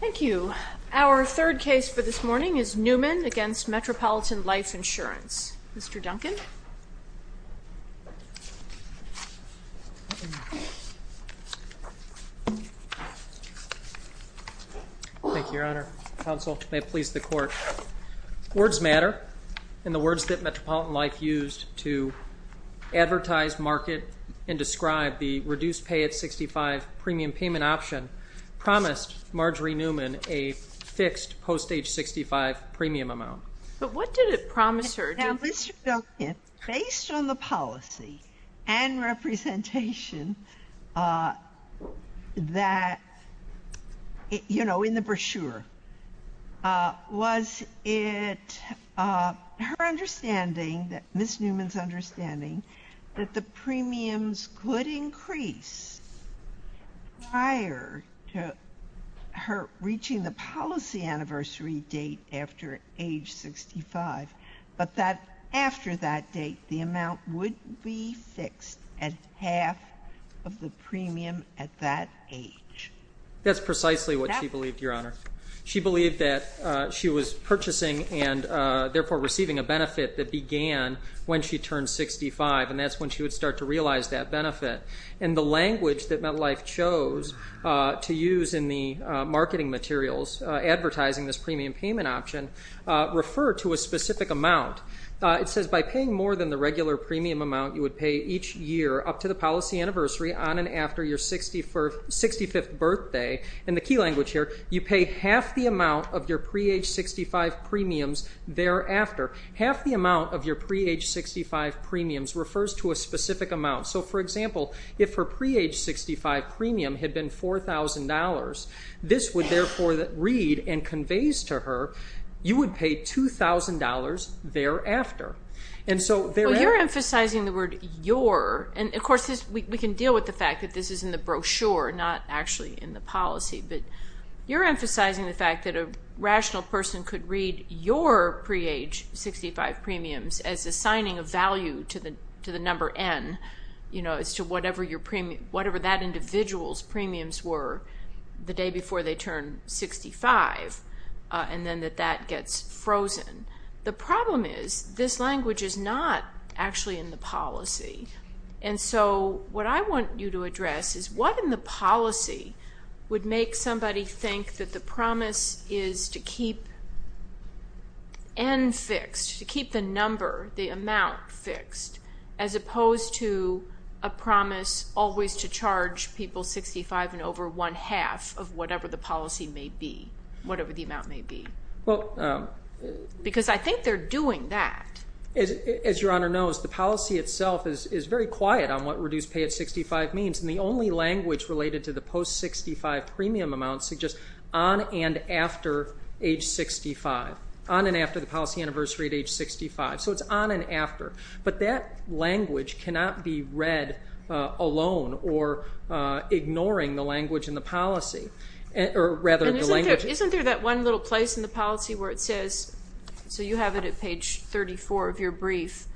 Thank you. Our third case for this morning is Newman v. Metropolitan Life Insurance. Mr. Duncan. Thank you, Your Honor. Counsel, may it please the Court. Words matter, and the words that Metropolitan Life used to advertise, market, and describe the reduced pay at 65 premium payment option promised Margery Newman a fixed post-age 65 premium amount. But what did it promise her? Now, Mr. Duncan, based on the policy and representation that, you know, in the brochure, was it her understanding, Ms. Newman's understanding, that the premiums could increase prior to her reaching the policy anniversary date after age 65, but that after that date, the amount would be fixed at half of the premium at that age. That's precisely what she believed, Your Honor. She believed that she was purchasing and, therefore, receiving a benefit that began when she turned 65, and that's when she would start to realize that benefit. And the language that MetLife chose to use in the marketing materials advertising this premium payment option referred to a specific amount. It says, by paying more than the regular premium amount you would pay each year up to the policy of your pre-age 65 premiums thereafter. Half the amount of your pre-age 65 premiums refers to a specific amount. So, for example, if her pre-age 65 premium had been $4,000, this would, therefore, read and conveys to her, you would pay $2,000 thereafter. And so there… Well, you're emphasizing the word, your. And, of course, we can deal with the fact that this is in the brochure, not actually in the policy. But you're emphasizing the fact that a rational person could read your pre-age 65 premiums as assigning a value to the number N, you know, as to whatever that individual's premiums were the day before they turned 65, and then that that gets frozen. The problem is this language is not actually in the policy. And so what I want you to address is what in the policy would make somebody think that the promise is to keep N fixed, to keep the number, the amount fixed, as opposed to a promise always to charge people 65 and over one-half of whatever the policy may be, whatever the amount may be? Well… Because I think they're doing that. As Your Honor knows, the policy itself is very quiet on what reduced pay at 65 means. And the only language related to the post-65 premium amount suggests on and after age 65, on and after the policy anniversary at age 65. So it's on and after. But that language cannot be read alone or ignoring the language in the policy, or rather the language… And isn't there that one little place in the policy where it says… So you have it at page 34 of your brief.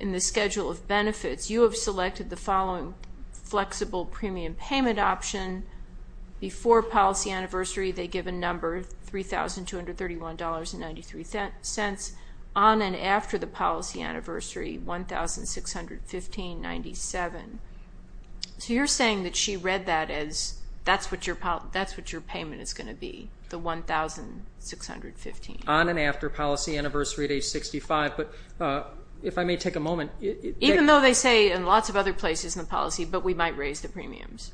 In the schedule of benefits, you have selected the following flexible premium payment option. Before policy anniversary, they give a number, $3,231.93. On and after the policy anniversary, $1,615.97. So you're saying that she read that as that's what your payment is going to be, the $1,615. On and after policy anniversary at age 65. But if I may take a moment… Even though they say in lots of other places in the policy, but we might raise the premiums.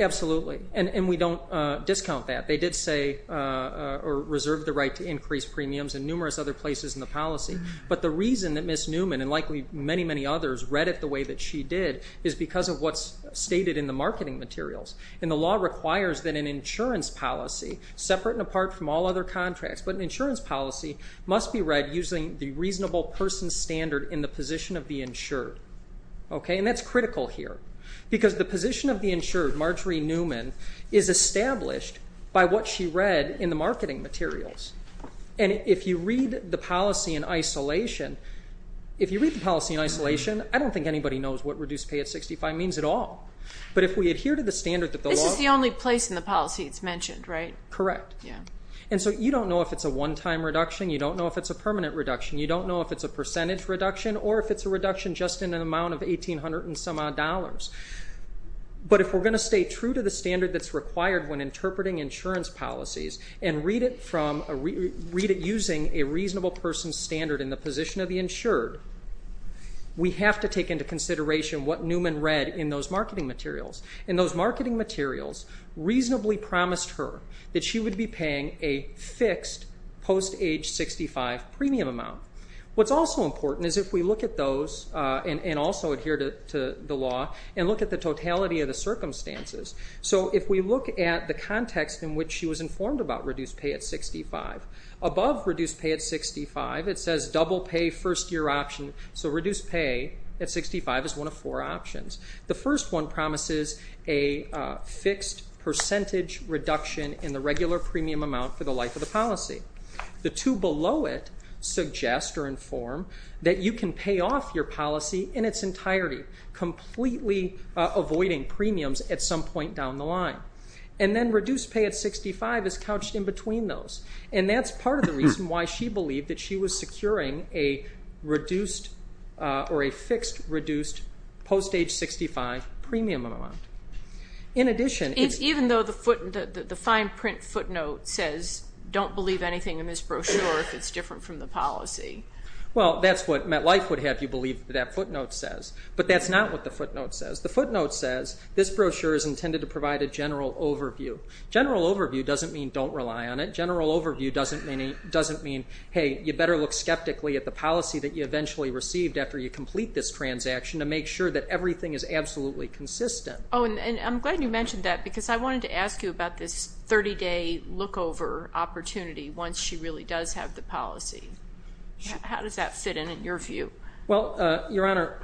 Absolutely. And we don't discount that. They did say, or reserved the right to increase premiums in numerous other places in the policy. But the reason that Ms. Newman, and likely many, many others, read it the way that she did is because of what's stated in the marketing materials. And the law requires that an insurance policy, separate and apart from all other contracts, but an insurance policy must be read using the reasonable person standard in the position of the insured. And that's critical here. Because the position of the insured, Marjorie Newman, is established by what she read in the marketing materials. And if you read the policy in isolation, if you read the policy in isolation, I don't think anybody knows what reduced pay at 65 means at all. But if we adhere to the standard that the law… This is the only place in the policy it's mentioned, right? Correct. Yeah. And so you don't know if it's a one-time reduction, you don't know if it's a permanent reduction, you don't know if it's a percentage reduction, or if it's a reduction just in an amount of $1,800 and some odd dollars. But if we're going to stay true to the standard that's required when interpreting insurance policies and read it using a reasonable person standard in the position of the insured, we have to take into consideration what Newman read in those marketing materials. And those marketing materials reasonably promised her that she would be paying a fixed post-age 65 premium amount. What's also important is if we look at those and also adhere to the law and look at the totality of the circumstances. So if we look at the context in which she was informed about reduced pay at 65, above reduced pay at 65 it says double pay first year option. So reduced pay at 65 is one of four options. The first one promises a fixed percentage reduction in the regular premium amount for the life of the policy. The two below it suggest or inform that you can pay off your policy in its entirety, completely avoiding premiums at some point down the line. And then reduced pay at 65 is couched in between those. And that's part of the reason why she believed that she was securing a reduced or a fixed reduced post-age 65 premium amount. In addition, it's... Even though the fine print footnote says don't believe anything in this brochure if it's different from the policy. Well, that's what MetLife would have you believe that that footnote says. But that's not what the footnote says. The footnote says this brochure is intended to provide a general overview. General overview doesn't mean don't rely on it. General overview doesn't mean, hey, you better look skeptically at the policy that you eventually received after you complete this transaction to make sure that everything is absolutely consistent. Oh, and I'm glad you mentioned that because I wanted to ask you about this 30-day lookover opportunity once she really does have the policy. How does that fit in in your view? Well, Your Honor,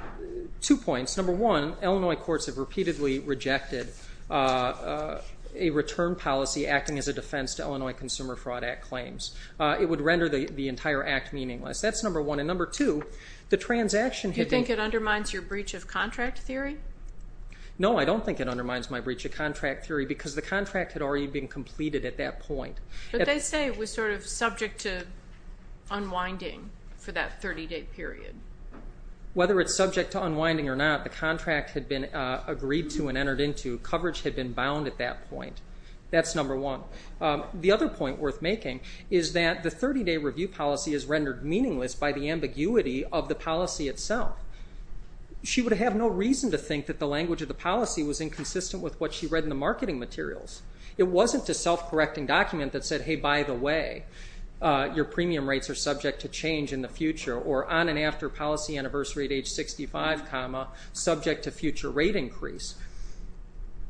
two points. Number one, Illinois courts have repeatedly rejected a return policy acting as a defense to Illinois Consumer Fraud Act claims. It would render the entire act meaningless. That's number one. And number two, the transaction... Do you think it undermines your breach of contract theory? No, I don't think it undermines my breach of contract theory because the contract had already been completed at that point. But they say it was sort of subject to unwinding for that 30-day period. Whether it's subject to unwinding or not, the contract had been agreed to and entered into. Coverage had been bound at that point. That's number one. The other point worth making is that the 30-day review policy is rendered meaningless by the ambiguity of the policy itself. She would have no reason to think that the language of the policy was inconsistent with what she read in the marketing materials. It wasn't a self-correcting document that said, hey, by the way, your premium rates are subject to change in the future, or on and after policy anniversary at age 65, subject to future rate increase.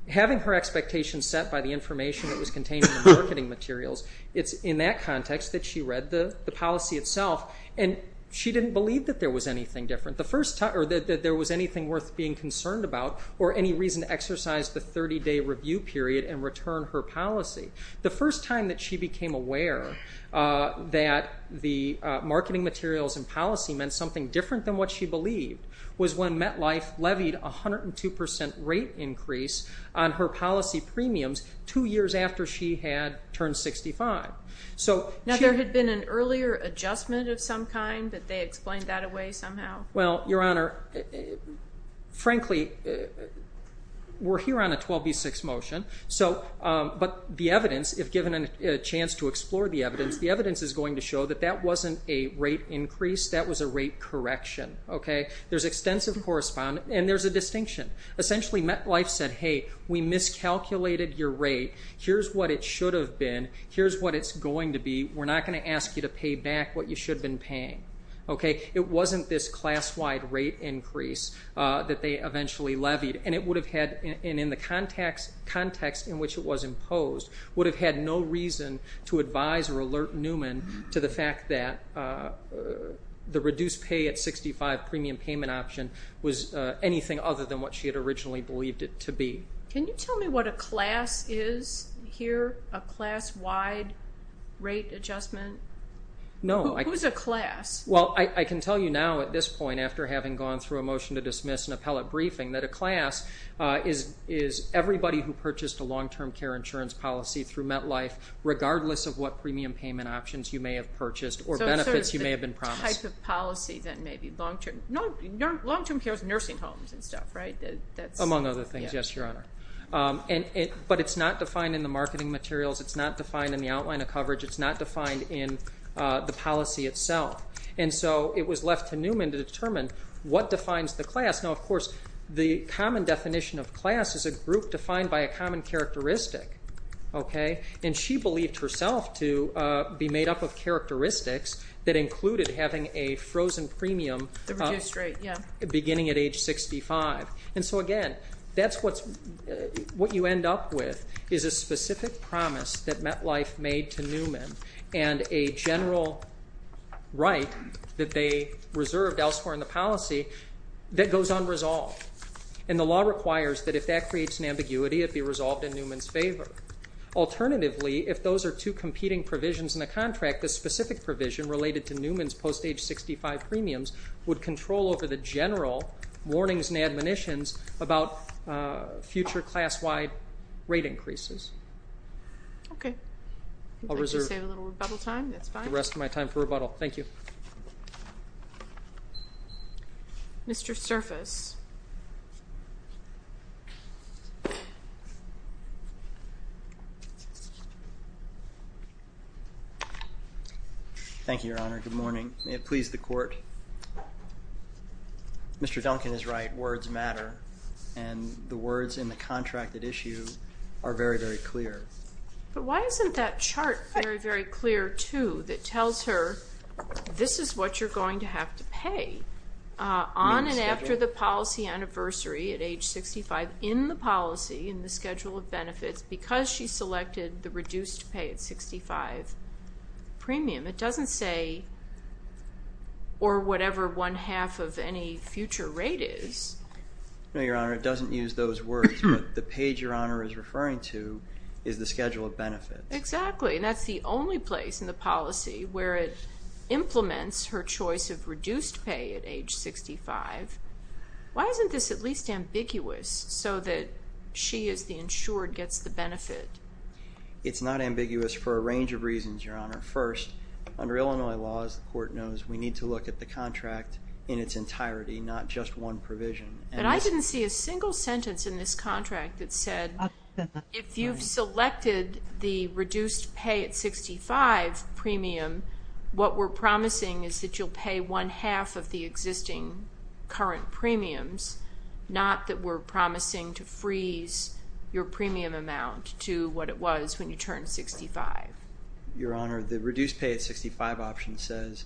Having her expectations set by the information that was contained in the marketing materials, it's in that context that she read the policy itself, and she didn't believe that there was anything different, or that there was anything worth being concerned about or any reason to exercise the 30-day review period and return her policy. The first time that she became aware that the marketing materials and policy meant something different than what she believed was when MetLife levied a 102% rate increase on her policy premiums two years after she had turned 65. Now, there had been an earlier adjustment of some kind? Did they explain that away somehow? Well, Your Honor, frankly, we're here on a 12B6 motion, but the evidence, if given a chance to explore the evidence, the evidence is going to show that that wasn't a rate increase. That was a rate correction. There's extensive correspondence, and there's a distinction. Essentially, MetLife said, hey, we miscalculated your rate. Here's what it should have been. Here's what it's going to be. We're not going to ask you to pay back what you should have been paying. It wasn't this class-wide rate increase that they eventually levied, and in the context in which it was imposed, would have had no reason to advise or alert Newman to the fact that the reduced pay at 65 premium payment option was anything other than what she had originally believed it to be. Can you tell me what a class is here, a class-wide rate adjustment? Who's a class? Well, I can tell you now at this point, after having gone through a motion to dismiss an appellate briefing, that a class is everybody who purchased a long-term care insurance policy through MetLife, regardless of what premium payment options you may have purchased or benefits you may have been promised. So it's the type of policy that may be long-term. Long-term care is nursing homes and stuff, right? Among other things, yes, Your Honor. But it's not defined in the marketing materials. It's not defined in the outline of coverage. It's not defined in the policy itself. And so it was left to Newman to determine what defines the class. Now, of course, the common definition of class is a group defined by a common characteristic, okay? And she believed herself to be made up of characteristics that included having a frozen premium beginning at age 65. And so, again, what you end up with is a specific promise that MetLife made to Newman and a general right that they reserved elsewhere in the policy that goes unresolved. And the law requires that if that creates an ambiguity, it be resolved in Newman's favor. Alternatively, if those are two competing provisions in the contract, the specific provision related to Newman's post-age 65 premiums would control over the general warnings and admonitions about future class-wide rate increases. Okay. I'll reserve the rest of my time for rebuttal. Thank you. Mr. Surface. Thank you, Your Honor. Good morning. May it please the Court. Mr. Duncan is right. Words matter. And the words in the contracted issue are very, very clear. But why isn't that chart very, very clear, too, that tells her this is what you're going to have to pay on and after the policy anniversary at age 65 in the policy, in the schedule of benefits, because she selected the reduced pay at 65 premium? It doesn't say, or whatever one-half of any future rate is. No, Your Honor, it doesn't use those words. But the page Your Honor is referring to is the schedule of benefits. Exactly, and that's the only place in the policy where it implements her choice of reduced pay at age 65. Why isn't this at least ambiguous so that she as the insured gets the benefit? It's not ambiguous for a range of reasons, Your Honor. First, under Illinois laws, the Court knows we need to look at the contract in its entirety, not just one provision. But I didn't see a single sentence in this contract that said if you've selected the reduced pay at 65 premium, what we're promising is that you'll pay one-half of the existing current premiums, not that we're promising to freeze your premium amount to what it was when you turned 65. Your Honor, the reduced pay at 65 option says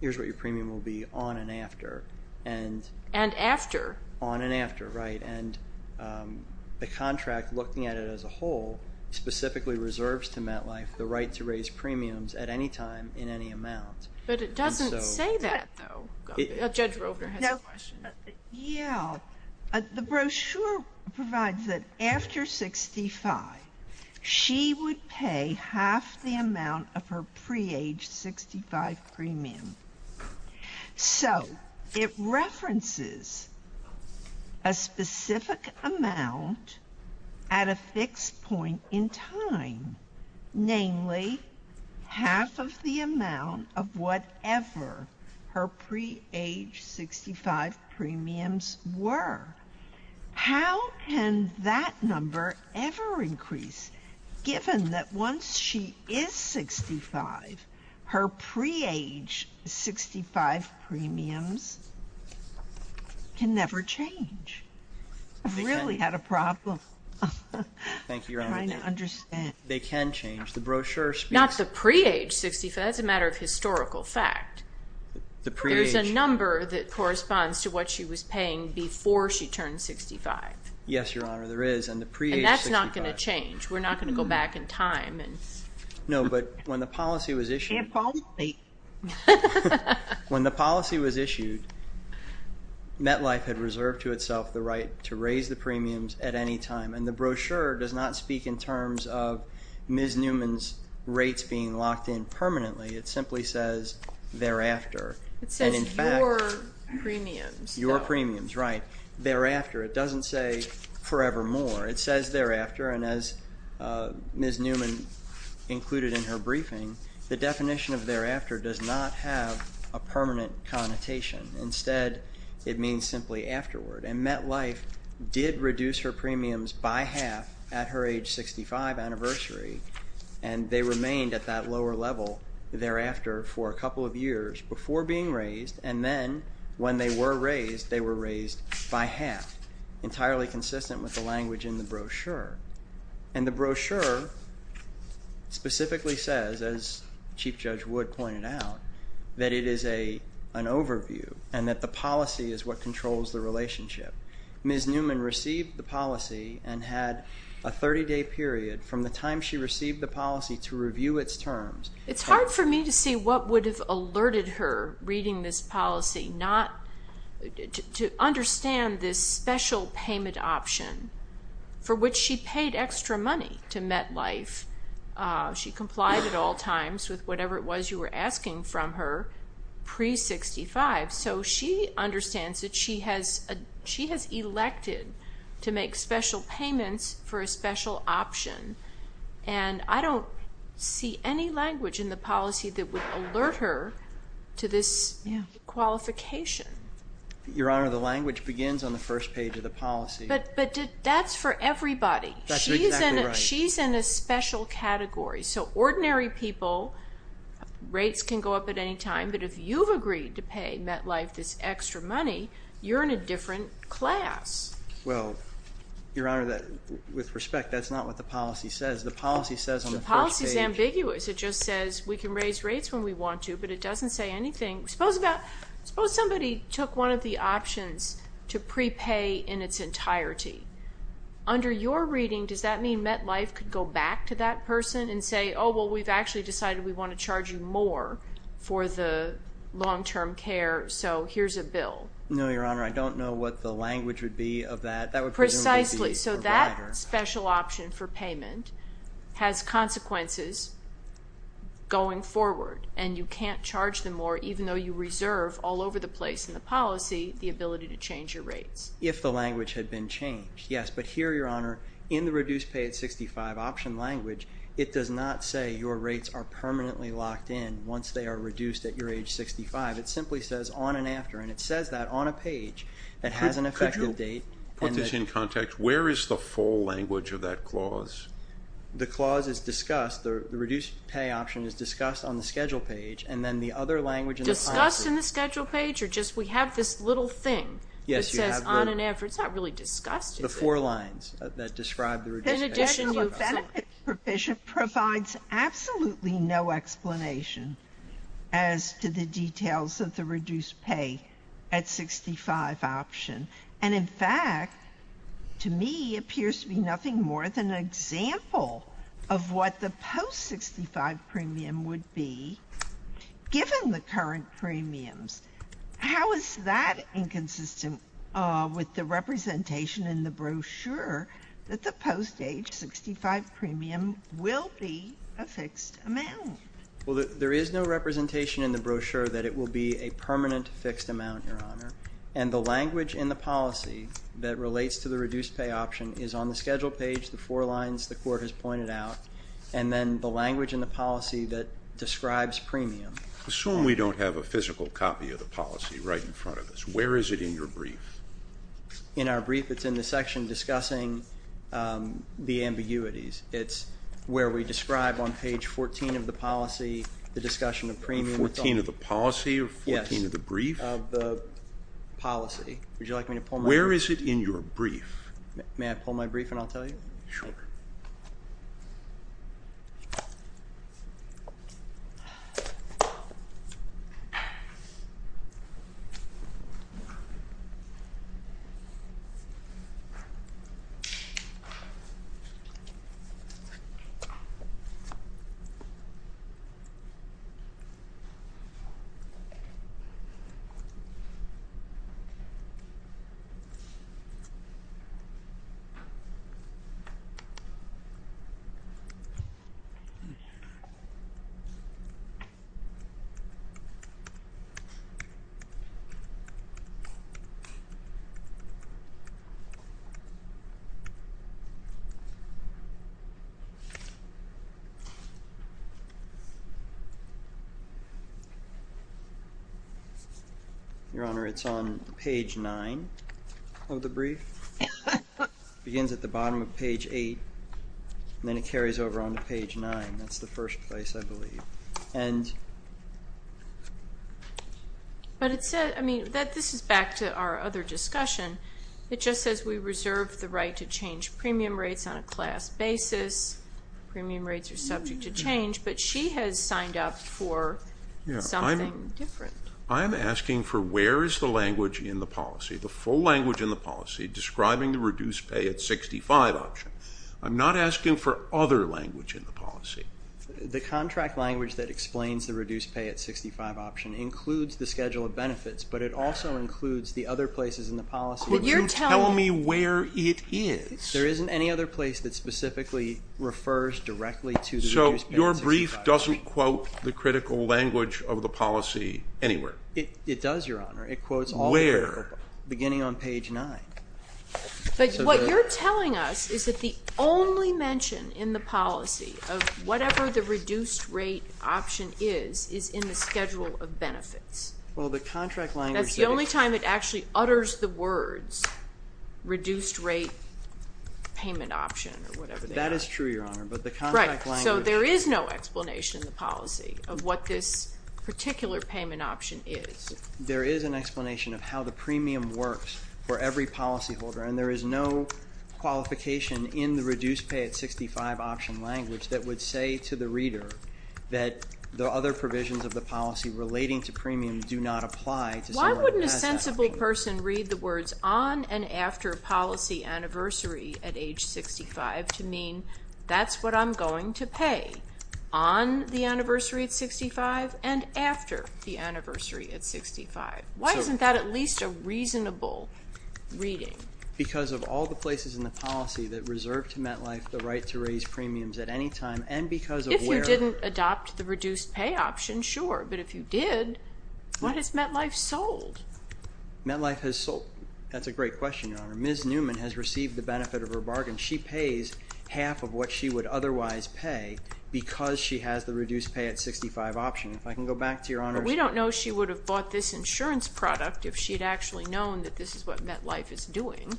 here's what your premium will be on and after. And after? On and after, right. And the contract, looking at it as a whole, specifically reserves to MetLife the right to raise premiums at any time in any amount. But it doesn't say that, though. Judge Rover has a question. Yeah, the brochure provides that after 65, she would pay half the amount of her pre-aged 65 premium. So it references a specific amount at a fixed point in time, namely half of the amount of whatever her pre-aged 65 premiums were. How can that number ever increase, given that once she is 65, her pre-aged 65 premiums can never change? I've really had a problem. Thank you, Your Honor. I don't understand. They can change. The brochure speaks to that. Not the pre-aged 65. That's a matter of historical fact. There's a number that corresponds to what she was paying before she turned 65. Yes, Your Honor, there is. And that's not going to change. We're not going to go back in time. No, but when the policy was issued, when the policy was issued, MetLife had reserved to itself the right to raise the premiums at any time. And the brochure does not speak in terms of Ms. Newman's rates being locked in permanently. It simply says thereafter. It says your premiums. Your premiums, right, thereafter. It doesn't say forevermore. It says thereafter. And as Ms. Newman included in her briefing, the definition of thereafter does not have a permanent connotation. Instead, it means simply afterward. And MetLife did reduce her premiums by half at her age 65 anniversary, and they remained at that lower level thereafter for a couple of years before being raised, and then when they were raised, they were raised by half, entirely consistent with the language in the brochure. And the brochure specifically says, as Chief Judge Wood pointed out, that it is an overview and that the policy is what controls the relationship. Ms. Newman received the policy and had a 30-day period from the time she received the policy to review its terms. It's hard for me to see what would have alerted her reading this policy, not to understand this special payment option for which she paid extra money to MetLife. She complied at all times with whatever it was you were asking from her pre-65, so she understands that she has elected to make special payments for a special option. And I don't see any language in the policy that would alert her to this qualification. Your Honor, the language begins on the first page of the policy. But that's for everybody. She's in a special category. So ordinary people, rates can go up at any time, but if you've agreed to pay MetLife this extra money, you're in a different class. Well, Your Honor, with respect, that's not what the policy says. The policy says on the first page... The policy is ambiguous. It just says we can raise rates when we want to, but it doesn't say anything. Suppose somebody took one of the options to prepay in its entirety. Under your reading, does that mean MetLife could go back to that person and say, oh, well, we've actually decided we want to charge you more for the long-term care, so here's a bill? No, Your Honor. I don't know what the language would be of that. Precisely. So that special option for payment has consequences going forward, and you can't charge them more, even though you reserve all over the place in the policy the ability to change your rates. If the language had been changed, yes. But here, Your Honor, in the reduce pay at 65 option language, it does not say your rates are permanently locked in once they are reduced at your age 65. It simply says on and after, and it says that on a page that has an effective date. Could you put this in context? Where is the full language of that clause? The clause is discussed. The reduce pay option is discussed on the schedule page, and then the other language in the policy... Discussed in the schedule page, or just we have this little thing that says on and after? It's not really discussed, is it? The four lines that describe the reduce pay option. That provision provides absolutely no explanation as to the details of the reduce pay at 65 option. And in fact, to me, appears to be nothing more than an example of what the post 65 premium would be given the current premiums. How is that inconsistent with the representation in the brochure that the post age 65 premium will be a fixed amount? Well, there is no representation in the brochure that it will be a permanent fixed amount, Your Honor. And the language in the policy that relates to the reduce pay option is on the schedule page, the four lines the court has pointed out, and then the language in the policy that describes premium. Assume we don't have a physical copy of the policy right in front of us. Where is it in your brief? In our brief, it's in the section discussing the ambiguities. It's where we describe on page 14 of the policy the discussion of premium. 14 of the policy or 14 of the brief? Yes, of the policy. Where is it in your brief? May I pull my brief and I'll tell you? Sure. Okay. Your Honor, it's on page 9 of the brief. It begins at the bottom of page 8, and then it carries over on to page 9. That's the first place, I believe. But it said, I mean, this is back to our other discussion, it just says we reserve the right to change premium rates on a class basis. Premium rates are subject to change. But she has signed up for something different. I am asking for where is the language in the policy, the full language in the policy describing the reduce pay at 65 option. I'm not asking for other language in the policy. The contract language that explains the reduce pay at 65 option includes the schedule of benefits, but it also includes the other places in the policy. Could you tell me where it is? There isn't any other place that specifically refers directly to the reduce pay at 65. So your brief doesn't quote the critical language of the policy anywhere? It does, Your Honor. It quotes all the critical. Where? Beginning on page 9. But what you're telling us is that the only mention in the policy of whatever the reduced rate option is is in the schedule of benefits. Well, the contract language says it. That's the only time it actually utters the words reduced rate payment option or whatever they are. That is true, Your Honor, but the contract language. Right, so there is no explanation in the policy of what this particular payment option is. There is an explanation of how the premium works for every policyholder, and there is no qualification in the reduce pay at 65 option language that would say to the reader that the other provisions of the policy relating to premium do not apply to someone who has that premium. Why wouldn't a sensible person read the words on and after policy anniversary at age 65 to mean that's what I'm going to pay on the anniversary at 65 and after the anniversary at 65? Why isn't that at least a reasonable reading? Because of all the places in the policy that reserve to MetLife the right to raise premiums at any time and because of where. If you didn't adopt the reduce pay option, sure, but if you did, what has MetLife sold? MetLife has sold. That's a great question, Your Honor. Ms. Newman has received the benefit of her bargain. She pays half of what she would otherwise pay because she has the reduce pay at 65 option. If I can go back to Your Honor's. But we don't know she would have bought this insurance product if she had actually known that this is what MetLife is doing.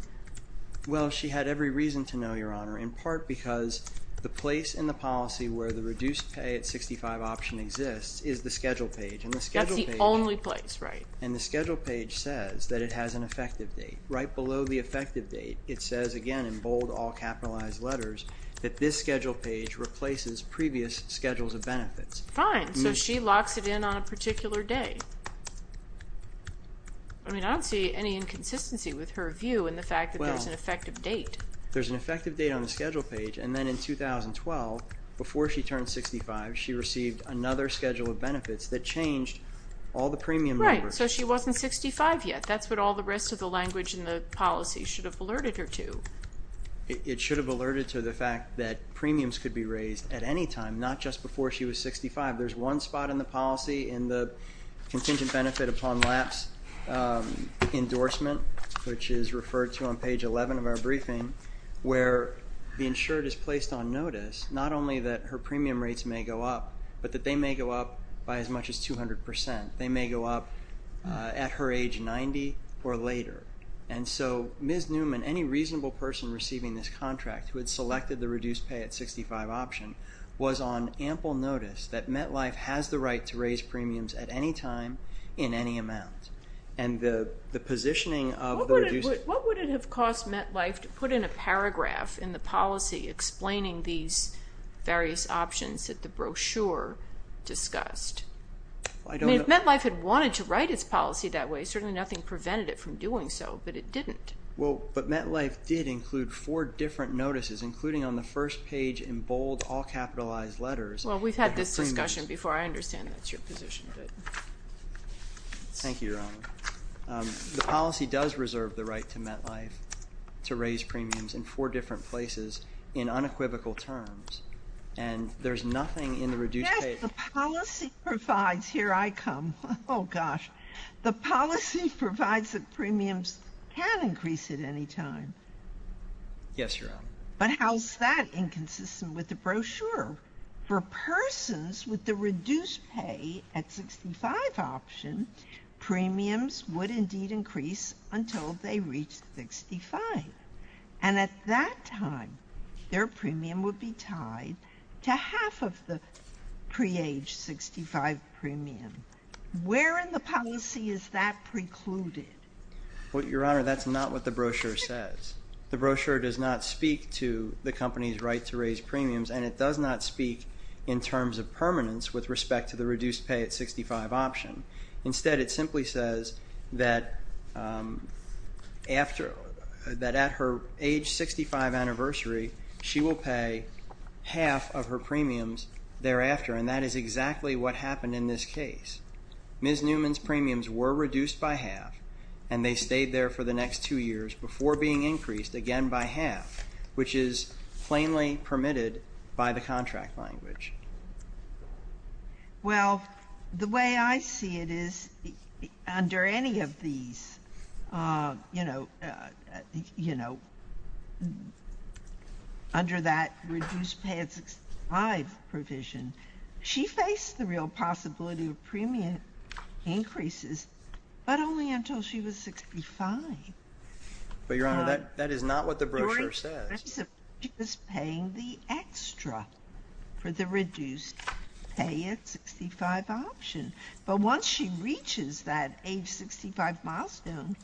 Well, she had every reason to know, Your Honor, in part because the place in the policy where the reduce pay at 65 option exists is the schedule page. That's the only place, right? And the schedule page says that it has an effective date. Right below the effective date, it says again in bold all capitalized letters that this schedule page replaces previous schedules of benefits. Fine. So she locks it in on a particular day. I mean, I don't see any inconsistency with her view in the fact that there's an effective date. There's an effective date on the schedule page, and then in 2012, before she turned 65, she received another schedule of benefits that changed all the premium numbers. Right. So she wasn't 65 yet. That's what all the rest of the language in the policy should have alerted her to. It should have alerted her to the fact that premiums could be raised at any time, not just before she was 65. There's one spot in the policy in the contingent benefit upon lapse endorsement, which is referred to on page 11 of our briefing, where the insured is placed on notice, not only that her premium rates may go up, but that they may go up by as much as 200%. They may go up at her age 90 or later. And so Ms. Newman, any reasonable person receiving this contract who had selected the reduced pay at 65 option, was on ample notice that MetLife has the right to raise premiums at any time in any amount. What would it have cost MetLife to put in a paragraph in the policy explaining these various options that the brochure discussed? If MetLife had wanted to write its policy that way, certainly nothing prevented it from doing so, but it didn't. But MetLife did include four different notices, including on the first page in bold all capitalized letters. Well, we've had this discussion before. I understand that's your position. Thank you, Your Honor. The policy does reserve the right to MetLife to raise premiums in four different places in unequivocal terms, and there's nothing in the reduced pay. Yes, the policy provides. Here I come. Oh, gosh. The policy provides that premiums can increase at any time. Yes, Your Honor. But how is that inconsistent with the brochure? For persons with the reduced pay at 65 option, premiums would indeed increase until they reached 65. And at that time, their premium would be tied to half of the pre-aged 65 premium. Where in the policy is that precluded? Well, Your Honor, that's not what the brochure says. The brochure does not speak to the company's right to raise premiums, and it does not speak in terms of permanence with respect to the reduced pay at 65 option. Instead, it simply says that at her age 65 anniversary, she will pay half of her premiums thereafter, and that is exactly what happened in this case. Ms. Newman's premiums were reduced by half, and they stayed there for the next two years before being increased again by half, which is plainly permitted by the contract language. Well, the way I see it is under any of these, you know, under that reduced pay at 65 provision, she faced the real possibility of premium increases, but only until she was 65. But, Your Honor, that is not what the brochure says. She was paying the extra for the reduced pay at 65 option, but once she reaches that age 65 milestone,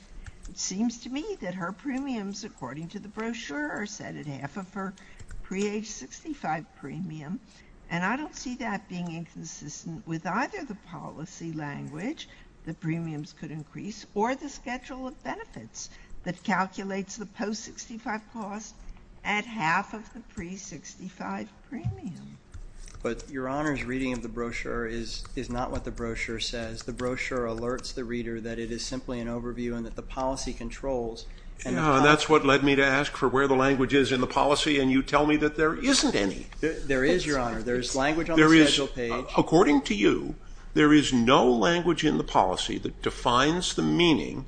it seems to me that her premiums, according to the brochure, are set at half of her pre-aged 65 premium, and I don't see that being inconsistent with either the policy language that premiums could increase or the schedule of benefits that calculates the post-65 cost at half of the pre-65 premium. But, Your Honor's reading of the brochure is not what the brochure says. The brochure alerts the reader that it is simply an overview and that the policy controls. That's what led me to ask for where the language is in the policy, and you tell me that there isn't any. There is, Your Honor. According to you, there is no language in the policy that defines the meaning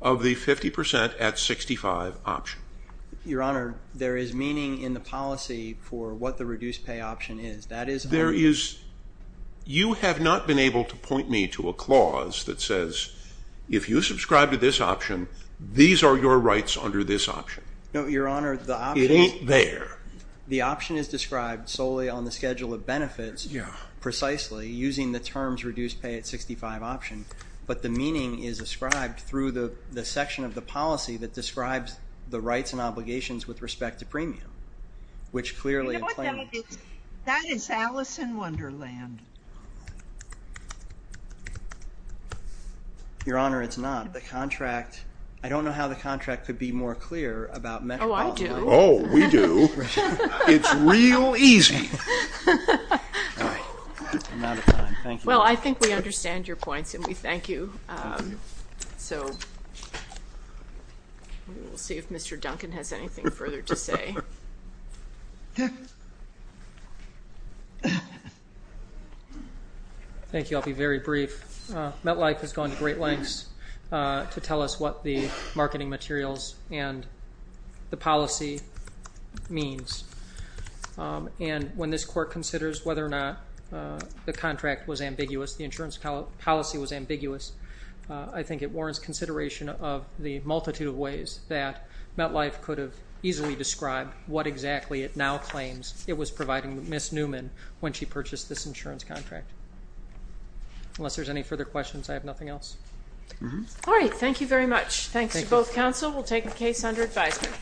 of the 50% at 65 option. Your Honor, there is meaning in the policy for what the reduced pay option is. There is... You have not been able to point me to a clause that says, if you subscribe to this option, these are your rights under this option. No, Your Honor, the option... It ain't there. The option is described solely on the schedule of benefits, precisely using the terms reduced pay at 65 option, but the meaning is ascribed through the section of the policy that describes the rights and obligations with respect to premium, which clearly... That is Alice in Wonderland. Your Honor, it's not. The contract... I don't know how the contract could be more clear about... Oh, I do. Oh, we do. It's real easy. All right. I'm out of time. Thank you. Well, I think we understand your points, and we thank you. Thank you. So we'll see if Mr. Duncan has anything further to say. Thank you. I'll be very brief. MetLife has gone to great lengths to tell us what the marketing materials and the policy means, and when this Court considers whether or not the contract was ambiguous, the insurance policy was ambiguous, I think it warrants consideration of the multitude of ways that MetLife could have easily described what exactly it now claims it was providing Miss Newman when she purchased this insurance contract. Unless there's any further questions, I have nothing else. All right. Thank you very much. Thanks to both counsel. We'll take the case under advisement.